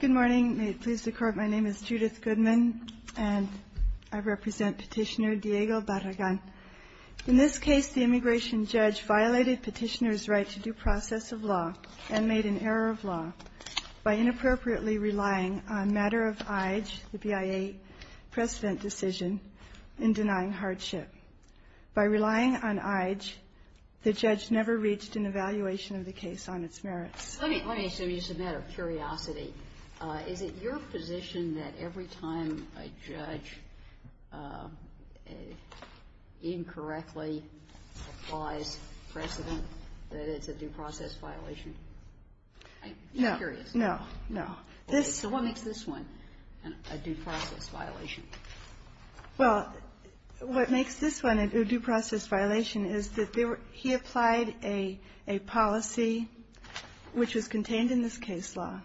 Good morning. May it please the Court, my name is Judith Goodman, and I represent Petitioner Diego Barragan. In this case, the immigration judge violated Petitioner's right to due process of law and made an error of law by inappropriately relying on matter of IJ, the BIA precedent decision, in denying hardship. By relying on IJ, the judge never reached an evaluation of the case on its merits. Kagan. Let me assume you said matter of curiosity. Is it your position that every time a judge incorrectly applies precedent that it's a due process violation? Barragan-Vasquez. No, no, no. Kagan. So what makes this one a due process violation? Barragan-Vasquez. Well, what makes this one a due process violation is that he applied a policy, which was contained in this case law,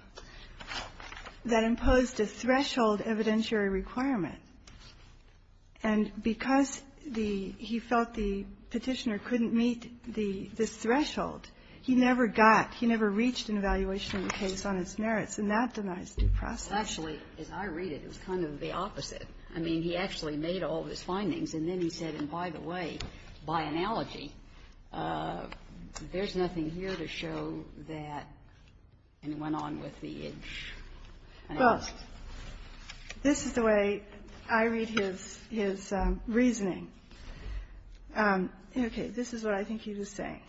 that imposed a threshold evidentiary requirement. And because the he felt the Petitioner couldn't meet this threshold, he never got, he never reached an evaluation of the case on its merits, and that denies due process. Actually, as I read it, it was kind of the opposite. I mean, he actually made all of his findings, and then he said, and by the way, by analogy, there's nothing here to show that anyone on with the IJ analysis. Well, this is the way I read his reasoning. Okay. This is what I think he was saying.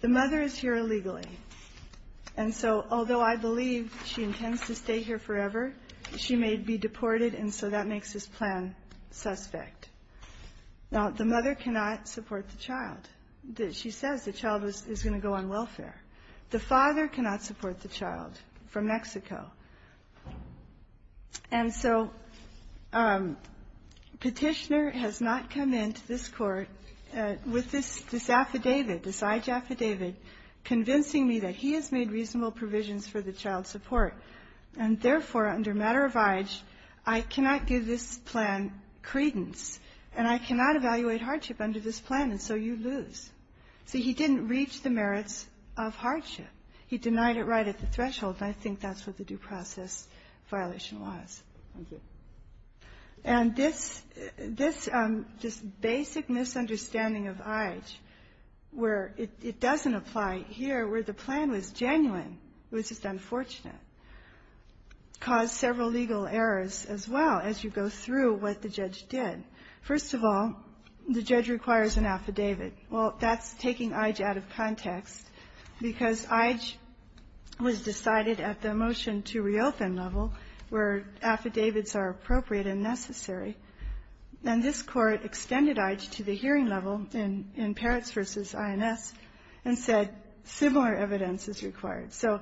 The mother is here illegally. And so although I believe she intends to stay here forever, she may be deported, and so that makes this plan suspect. Now, the mother cannot support the child. She says the child is going to go on welfare. The father cannot support the child from Mexico. And so Petitioner has not come into this Court with this affidavit, this IJ, and he has made reasonable provisions for the child's support. And therefore, under matter of IJ, I cannot give this plan credence, and I cannot evaluate hardship under this plan, and so you lose. See, he didn't reach the merits of hardship. He denied it right at the threshold, and I think that's what the due process violation was. Thank you. And this just basic misunderstanding of IJ where it doesn't apply here, where the plan was genuine, it was just unfortunate, caused several legal errors as well as you go through what the judge did. First of all, the judge requires an affidavit. Well, that's taking IJ out of context, because IJ was decided at the motion-to-reopen level, where affidavits are appropriate and necessary. And this Court extended IJ to the hearing level in Parrots v. INS and said similar evidence is required. So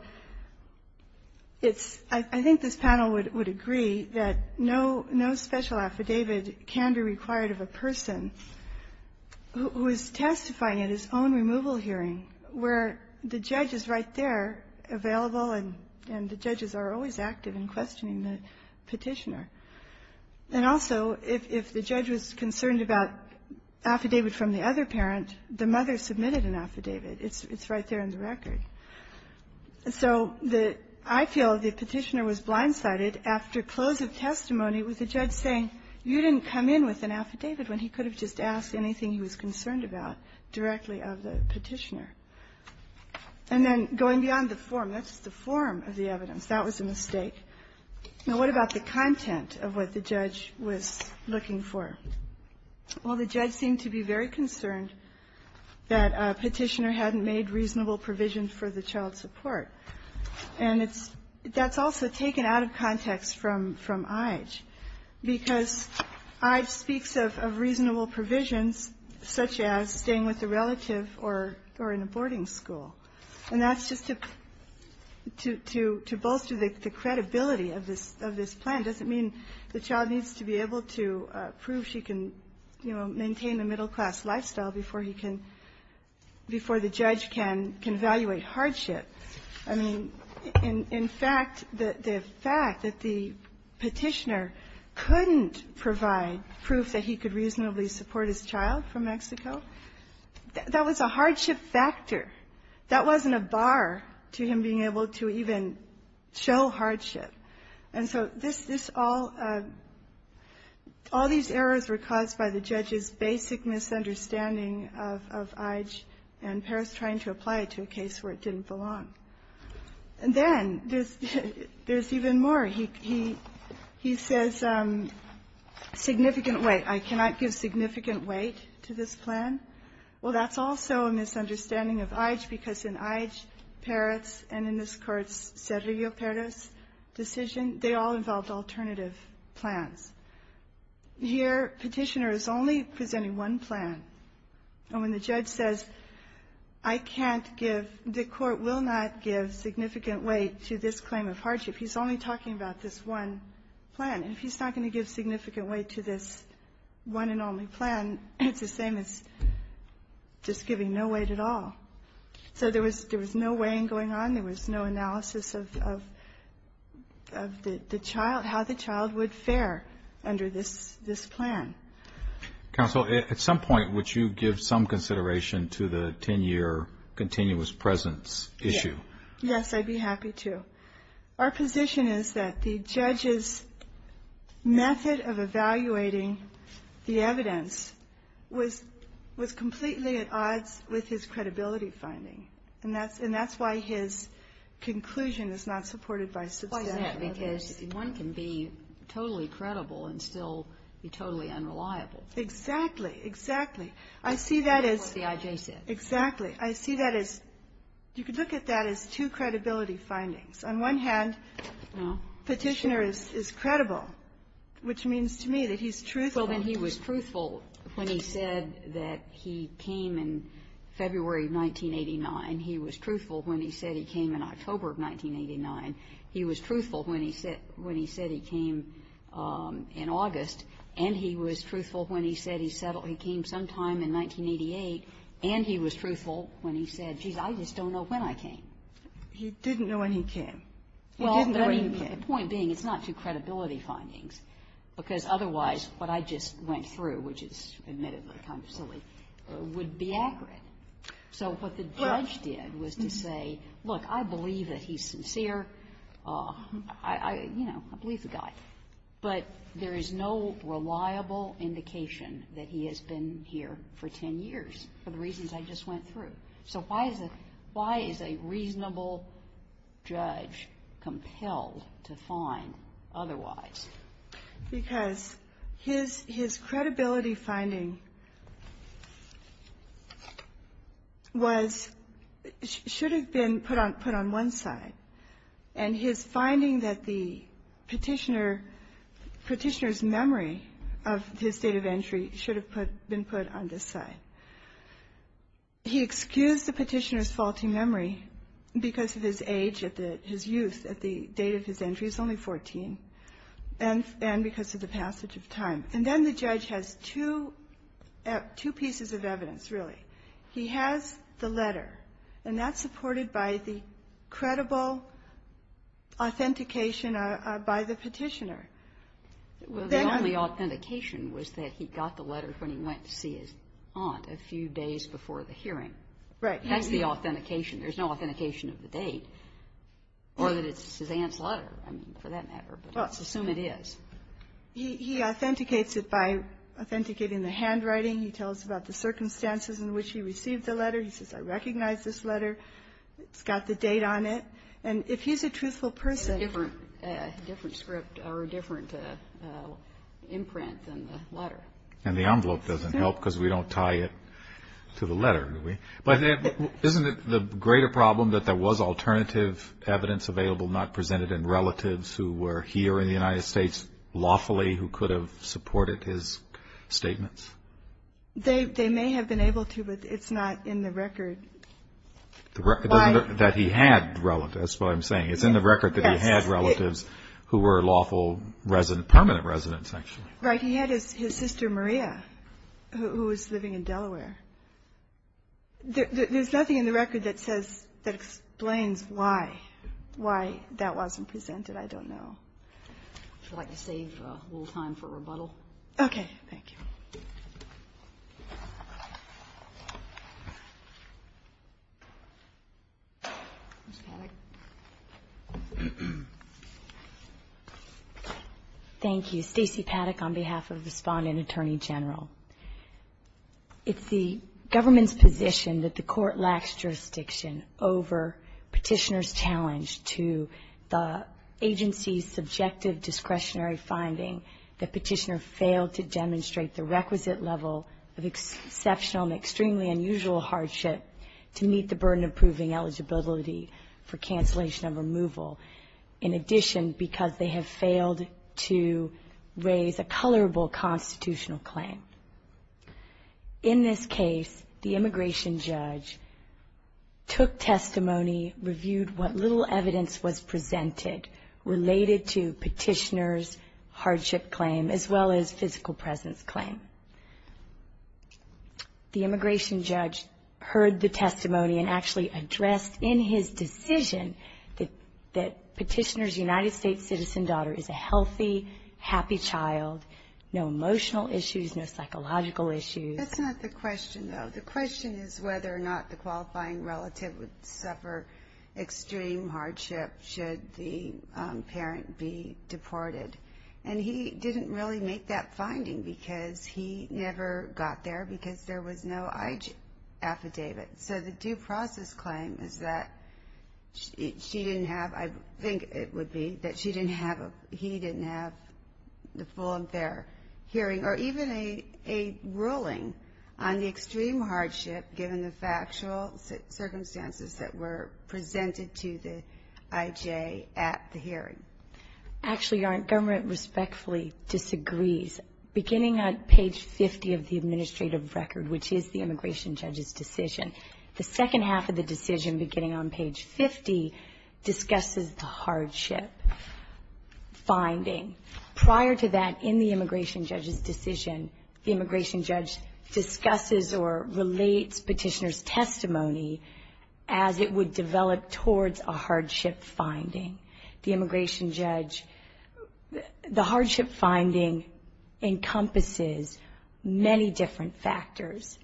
it's – I think this panel would agree that no special affidavit can be required of a person who is testifying at his own removal hearing, where the judge is right there, available, and the judges are always active in questioning the Petitioner. And also, if the judge was concerned about affidavit from the other parent, the mother submitted an affidavit. It's right there in the record. So the – I feel the Petitioner was blindsided after close of testimony with the judge saying, you didn't come in with an affidavit, when he could have just asked anything he was concerned about directly of the Petitioner. And then going beyond the form, that's the form of the evidence. That was a mistake. Now, what about the content of what the judge was looking for? Well, the judge seemed to be very concerned that Petitioner hadn't made reasonable provisions for the child support. And it's – that's also taken out of context from IJ, because IJ speaks of reasonable provisions, such as staying with a relative or in a boarding school. And that's just to – to bolster the credibility of this plan doesn't mean the child needs to be able to prove she can, you know, maintain a middle-class lifestyle before he can – before the judge can evaluate hardship. I mean, in fact, the fact that the Petitioner couldn't provide proof that he could reasonably support his child from Mexico, that was a hardship factor. That wasn't a bar to him being able to even show hardship. And so this – this all – all these errors were caused by the judge's basic misunderstanding of IJ and Paris trying to apply it to a case where it didn't belong. And then there's – there's even more. He – he – he says significant weight. I cannot give significant weight to this plan. Well, that's also a misunderstanding of IJ, because in IJ, Paris, and in this Court's Cerrillo-Perez decision, they all involved alternative plans. Here, Petitioner is only presenting one plan. And when the judge says, I can't give – the Court will not give significant weight to this claim of hardship. He's only talking about this one plan. And if he's not going to give significant weight to this one and only plan, it's the same as just giving no weight at all. So there was – there was no weighing going on. There was no analysis of – of the child – how the child would fare under this – this plan. Counsel, at some point, would you give some consideration to the 10-year continuous presence issue? Yes, I'd be happy to. Our position is that the judge's method of evaluating the evidence was – was completely at odds with his credibility finding. And that's – and that's why his conclusion is not supported by substantial evidence. Why is that? Because one can be totally credible and still be totally unreliable. Exactly. Exactly. I see that as – That's what the IJ said. Exactly. I see that as – you could look at that as two credibility findings. On one hand, Petitioner is – is credible, which means to me that he's truthful. Well, then he was truthful when he said that he came in February of 1989. He was truthful when he said he came in October of 1989. He was truthful when he said – when he said he came in August. And he was truthful when he said he settled – he came sometime in 1988. And he was truthful when he said, geez, I just don't know when I came. He didn't know when he came. He didn't know when he came. Well, I mean, the point being it's not two credibility findings, because otherwise what I just went through, which is admittedly kind of silly, would be accurate. So what the judge did was to say, look, I believe that he's sincere. I – you know, I believe the guy. But there is no reliable indication that he has been here for 10 years for the reasons I just went through. So why is a – why is a reasonable judge compelled to find otherwise? Because his credibility finding was – should have been put on one side. And his finding that the petitioner – petitioner's memory of his date of entry should have put – been put on this side. He excused the petitioner's faulty memory because of his age at the – his youth at the date of his entry. He's only 14. And because of the passage of time. And then the judge has two – two pieces of evidence, really. He has the letter. And that's supported by the credible authentication by the petitioner. Well, the only authentication was that he got the letter when he went to see his aunt a few days before the hearing. Right. That's the authentication. There's no authentication of the date. Or that it's his aunt's letter, I mean, for that matter. But let's assume it is. He – he authenticates it by authenticating the handwriting. He tells about the circumstances in which he received the letter. He says, I recognize this letter. It's got the date on it. And if he's a truthful person – It's a different – a different script or a different imprint than the letter. And the envelope doesn't help because we don't tie it to the letter, do we? But isn't it the greater problem that there was alternative evidence available not presented and relatives who were here in the United States lawfully who could have supported his statements? They – they may have been able to, but it's not in the record. The record doesn't – that he had relatives, is what I'm saying. It's in the record that he had relatives who were lawful resident – permanent residents, actually. Right. He had his sister Maria, who was living in Delaware. There's nothing in the record that says – that explains why – why that wasn't presented. I don't know. Would you like to save a little time for rebuttal? Okay. Thank you. Ms. Paddock. Thank you. Stacey Paddock on behalf of the Respondent Attorney General. It's the government's position that the Court lacks jurisdiction over Petitioner's the agency's subjective discretionary finding that Petitioner failed to demonstrate the requisite level of exceptional and extremely unusual hardship to meet the burden of proving eligibility for cancellation of removal. In addition, because they have failed to raise a colorable constitutional claim. In this case, the immigration judge took testimony, reviewed what little evidence was presented related to Petitioner's hardship claim as well as physical presence claim. The immigration judge heard the testimony and actually addressed in his decision that Petitioner's United States citizen daughter is a healthy, happy child, no emotional issues, no psychological issues. That's not the question, though. The question is whether or not the qualifying relative would suffer extreme hardship should the parent be deported. And he didn't really make that finding because he never got there because there was no affidavit. So the due process claim is that she didn't have, I think it would be, that she didn't have, he didn't have the full and fair hearing. Or even a ruling on the extreme hardship, given the factual circumstances that were presented to the IJ at the hearing. Actually, Your Honor, government respectfully disagrees. Beginning on page 50 of the administrative record, which is the immigration judge's decision, the second half of the decision, beginning on page 50, discusses the hardship finding. Prior to that, in the immigration judge's decision, the immigration judge discusses or relates Petitioner's testimony as it would develop towards a hardship finding. The immigration judge, the hardship finding encompasses many different factors.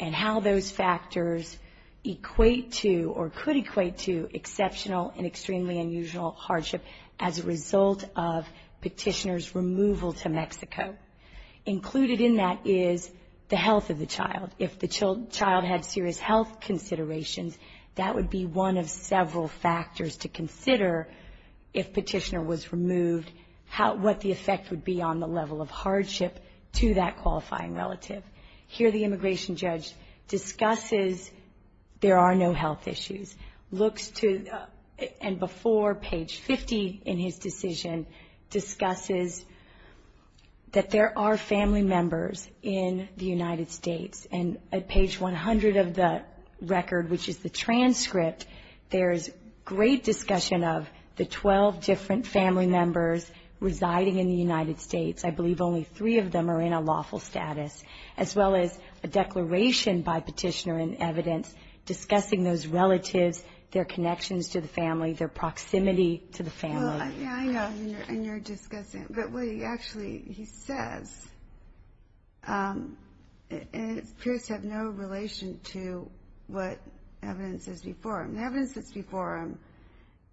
And how those factors equate to or could equate to exceptional and Petitioner's removal to Mexico. Included in that is the health of the child. If the child had serious health considerations, that would be one of several factors to consider if Petitioner was removed. How, what the effect would be on the level of hardship to that qualifying relative. Here the immigration judge discusses there are no health issues. Looks to, and before page 50 in his decision, discusses that there are family members in the United States. And at page 100 of the record, which is the transcript, there's great discussion of the 12 different family members residing in the United States. I believe only three of them are in a lawful status. As well as a declaration by Petitioner in evidence discussing those relatives, their connections to the family, their proximity to the family. Yeah, yeah, and you're discussing it. But what he actually, he says it appears to have no relation to what evidence is before him. The evidence that's before him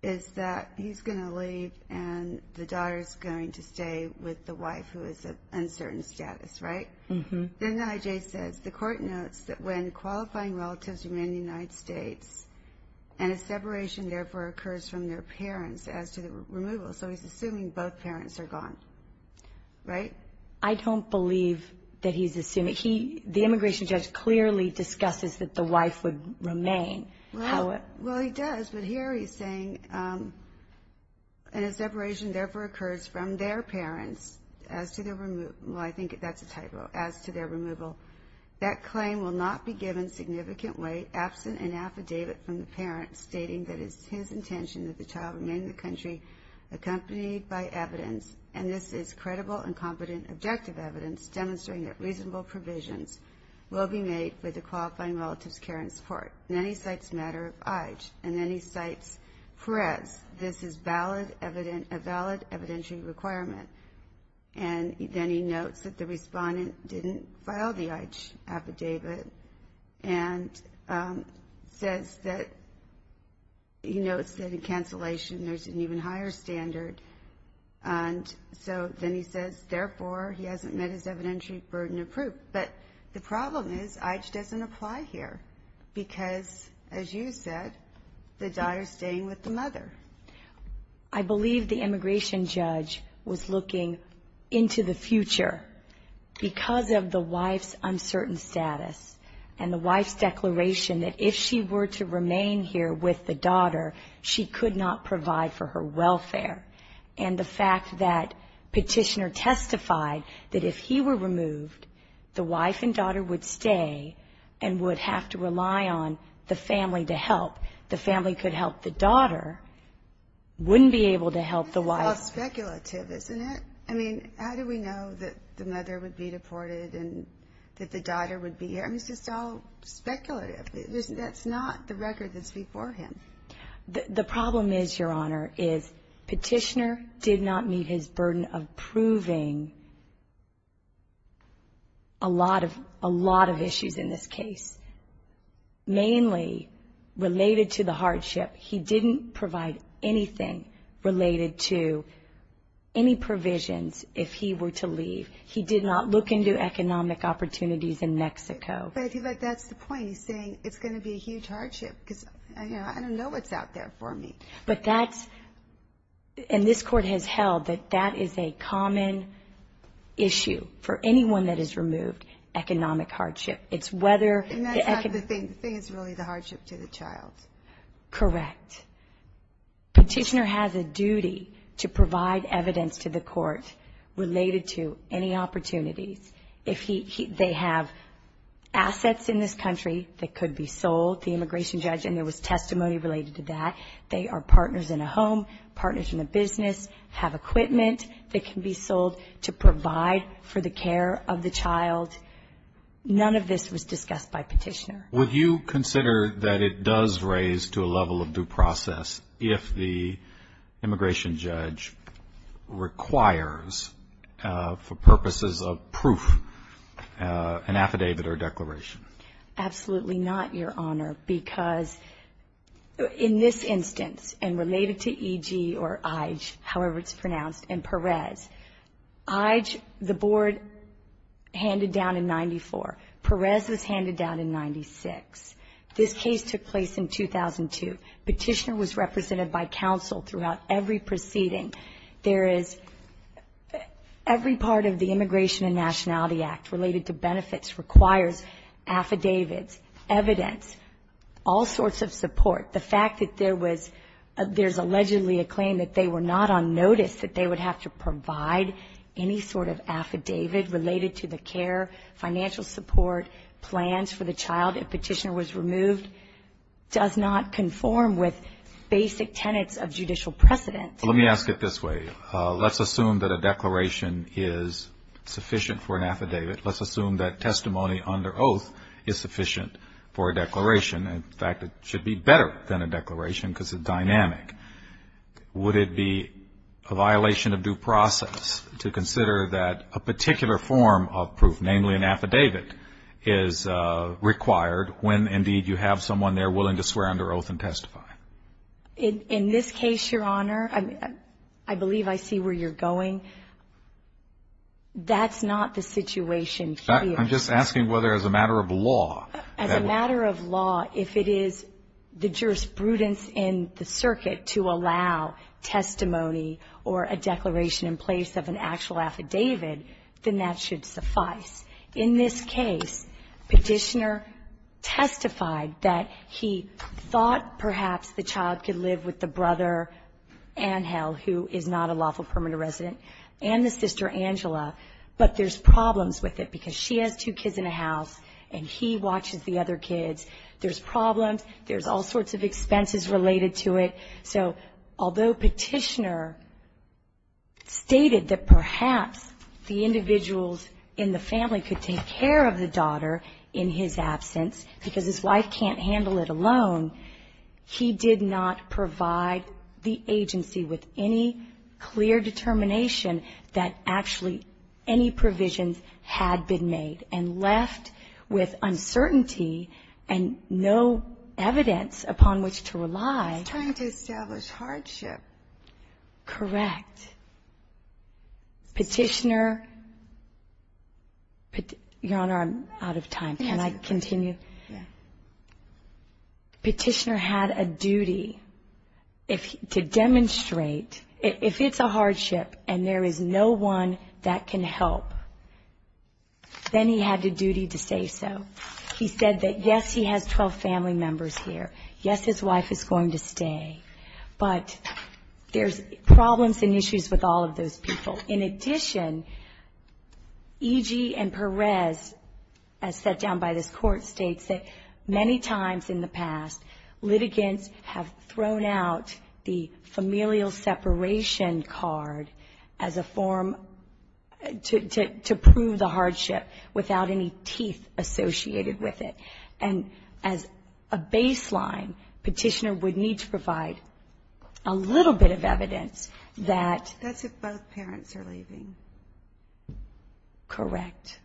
is that he's going to leave and the daughter's going to stay with the wife who is of uncertain status, right? Then the IJ says, the court notes that when qualifying relatives remain in the United States and a separation therefore occurs from their parents as to the removal. So he's assuming both parents are gone, right? I don't believe that he's assuming. He, the immigration judge clearly discusses that the wife would remain. Well, he does. But here he's saying, and a separation therefore occurs from their parents as to the removal. Well, I think that's a typo, as to their removal. That claim will not be given significant weight absent an affidavit from the parent stating that it's his intention that the child remain in the country accompanied by evidence. And this is credible and competent objective evidence demonstrating that reasonable provisions will be made with the qualifying relative's care and support. And then he cites matter of IJ. And then he cites Perez. This is a valid evidentiary requirement. And then he notes that the respondent didn't file the IJ affidavit. And says that, he notes that in cancellation there's an even higher standard. And so then he says, therefore, he hasn't met his evidentiary burden of proof. But the problem is IJ doesn't apply here. Because, as you said, the daughter's staying with the mother. I believe the immigration judge was looking into the future because of the wife's uncertain status. And the wife's declaration that if she were to remain here with the daughter, she could not provide for her welfare. And the fact that petitioner testified that if he were removed, the wife and daughter would stay and would have to rely on the family to help. The family could help the daughter, wouldn't be able to help the wife. This is all speculative, isn't it? I mean, how do we know that the mother would be deported and that the daughter would be here? I mean, it's just all speculative. That's not the record that's before him. The problem is, Your Honor, is petitioner did not meet his burden of proving a lot of issues in this case. Mainly related to the hardship, he didn't provide anything related to any provisions if he were to leave. He did not look into economic opportunities in Mexico. But I feel like that's the point. He's saying it's going to be a huge hardship because, you know, I don't know what's out there for me. But that's – and this Court has held that that is a common issue for anyone that is removed, economic hardship. It's whether – And that's not the thing. The thing is really the hardship to the child. Correct. Petitioner has a duty to provide evidence to the Court related to any opportunities. If he – they have assets in this country that could be sold, the immigration judge, and there was testimony related to that. They are partners in a home, partners in a business, have equipment that can be sold to provide for the care of the child. None of this was discussed by Petitioner. Would you consider that it does raise to a level of due process if the immigration judge requires, for purposes of proof, an affidavit or declaration? Absolutely not, Your Honor, because in this instance, and related to E.G. however it's pronounced, and Perez, E.G., the board handed down in 94. Perez was handed down in 96. This case took place in 2002. Petitioner was represented by counsel throughout every proceeding. There is – every part of the Immigration and Nationality Act related to benefits requires affidavits, evidence, all sorts of support. The fact that there was – there's allegedly a claim that they were not on notice, that they would have to provide any sort of affidavit related to the care, financial support, plans for the child if Petitioner was removed, does not conform with basic tenets of judicial precedent. Let me ask it this way. Let's assume that a declaration is sufficient for an affidavit. Let's assume that testimony under oath is sufficient for a declaration. In fact, it should be better than a declaration because it's dynamic. Would it be a violation of due process to consider that a particular form of proof, namely an affidavit, is required when, indeed, you have someone there willing to swear under oath and testify? In this case, Your Honor, I believe I see where you're going. That's not the situation here. I'm just asking whether as a matter of law. As a matter of law, if it is the jurisprudence in the circuit to allow testimony or a declaration in place of an actual affidavit, then that should suffice. In this case, Petitioner testified that he thought perhaps the child could live with a brother, Angel, who is not a lawful permanent resident, and the sister, Angela, but there's problems with it because she has two kids in the house and he watches the other kids. There's problems. There's all sorts of expenses related to it. So although Petitioner stated that perhaps the individuals in the family could take care of the daughter in his absence because his wife can't handle it alone, he did not provide the agency with any clear determination that actually any provisions had been made and left with uncertainty and no evidence upon which to rely. He's trying to establish hardship. Correct. Petitioner. Your Honor, I'm out of time. Can I continue? Yes. Petitioner had a duty to demonstrate if it's a hardship and there is no one that can help, then he had a duty to say so. He said that, yes, he has 12 family members here. Yes, his wife is going to stay, but there's problems and issues with all of those people. In addition, E.G. and Perez, as set down by this Court, states that many times in the past, litigants have thrown out the familial separation card as a form to prove the hardship without any teeth associated with it. And as a baseline, Petitioner would need to provide a little bit of evidence that... Correct.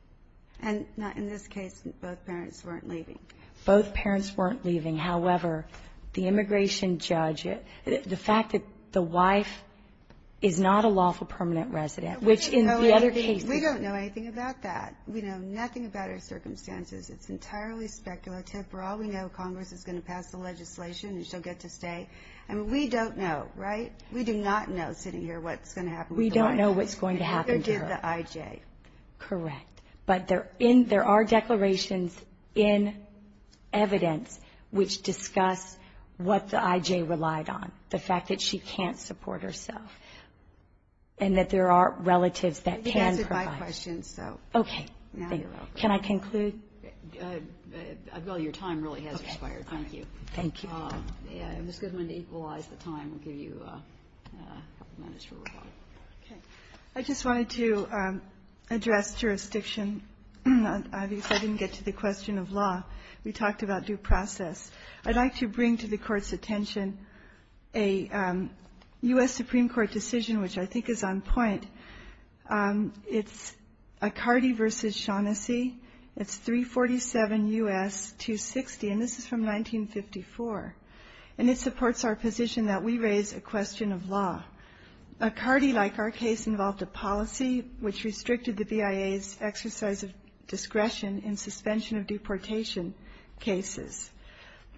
And in this case, both parents weren't leaving. Both parents weren't leaving. However, the immigration judge, the fact that the wife is not a lawful permanent resident, which in the other cases... We don't know anything about that. We know nothing about her circumstances. It's entirely speculative. For all we know, Congress is going to pass the legislation and she'll get to stay. And we don't know, right? We do not know, sitting here, what's going to happen with the wife. We don't know what's going to happen to her. Neither did the I.J. Correct. But there are declarations in evidence which discuss what the I.J. relied on, the fact that she can't support herself and that there are relatives that can provide. I think that answers my question, so... Okay. Now you're over. Can I conclude? Well, your time really has expired. Thank you. Thank you. Ms. Goodman, to equalize the time, we'll give you a couple minutes for rebuttal. Okay. I just wanted to address jurisdiction. Obviously, I didn't get to the question of law. We talked about due process. I'd like to bring to the Court's attention a U.S. Supreme Court decision which I think is on point. It's Accardi v. Shaughnessy. It's 347 U.S. 260. And this is from 1954. And it supports our position that we raise a question of law. Accardi, like our case, involved a policy which restricted the BIA's exercise of discretion in suspension of deportation cases.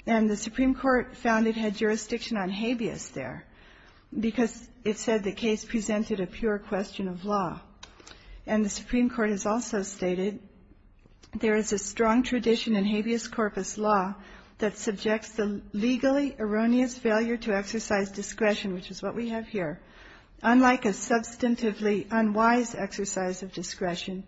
And the Supreme Court found it had jurisdiction on habeas there And the Supreme Court has also stated, there is a strong tradition in habeas corpus law that subjects the legally erroneous failure to exercise discretion, which is what we have here, unlike a substantively unwise exercise of discretion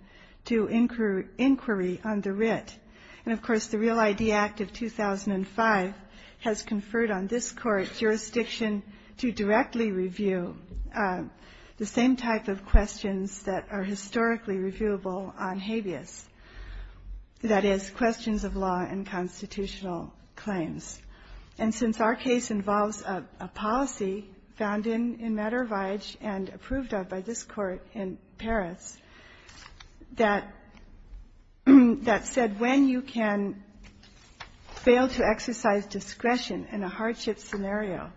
to inquiry on the writ. And, of course, the Real ID Act of 2005 has conferred on this Court jurisdiction to directly review the same type of questions that are historically reviewable on habeas, that is, questions of law and constitutional claims. And since our case involves a policy found in matter of age and approved of by this Court in Paris that said, when you can fail to exercise discretion in a hardship scenario,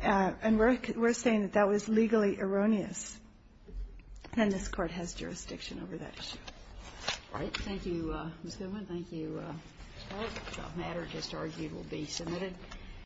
and we're saying that that was legally erroneous, then this Court has jurisdiction over that issue. All right. Thank you, Ms. Goodwin. Thank you. This matter just argued will be submitted.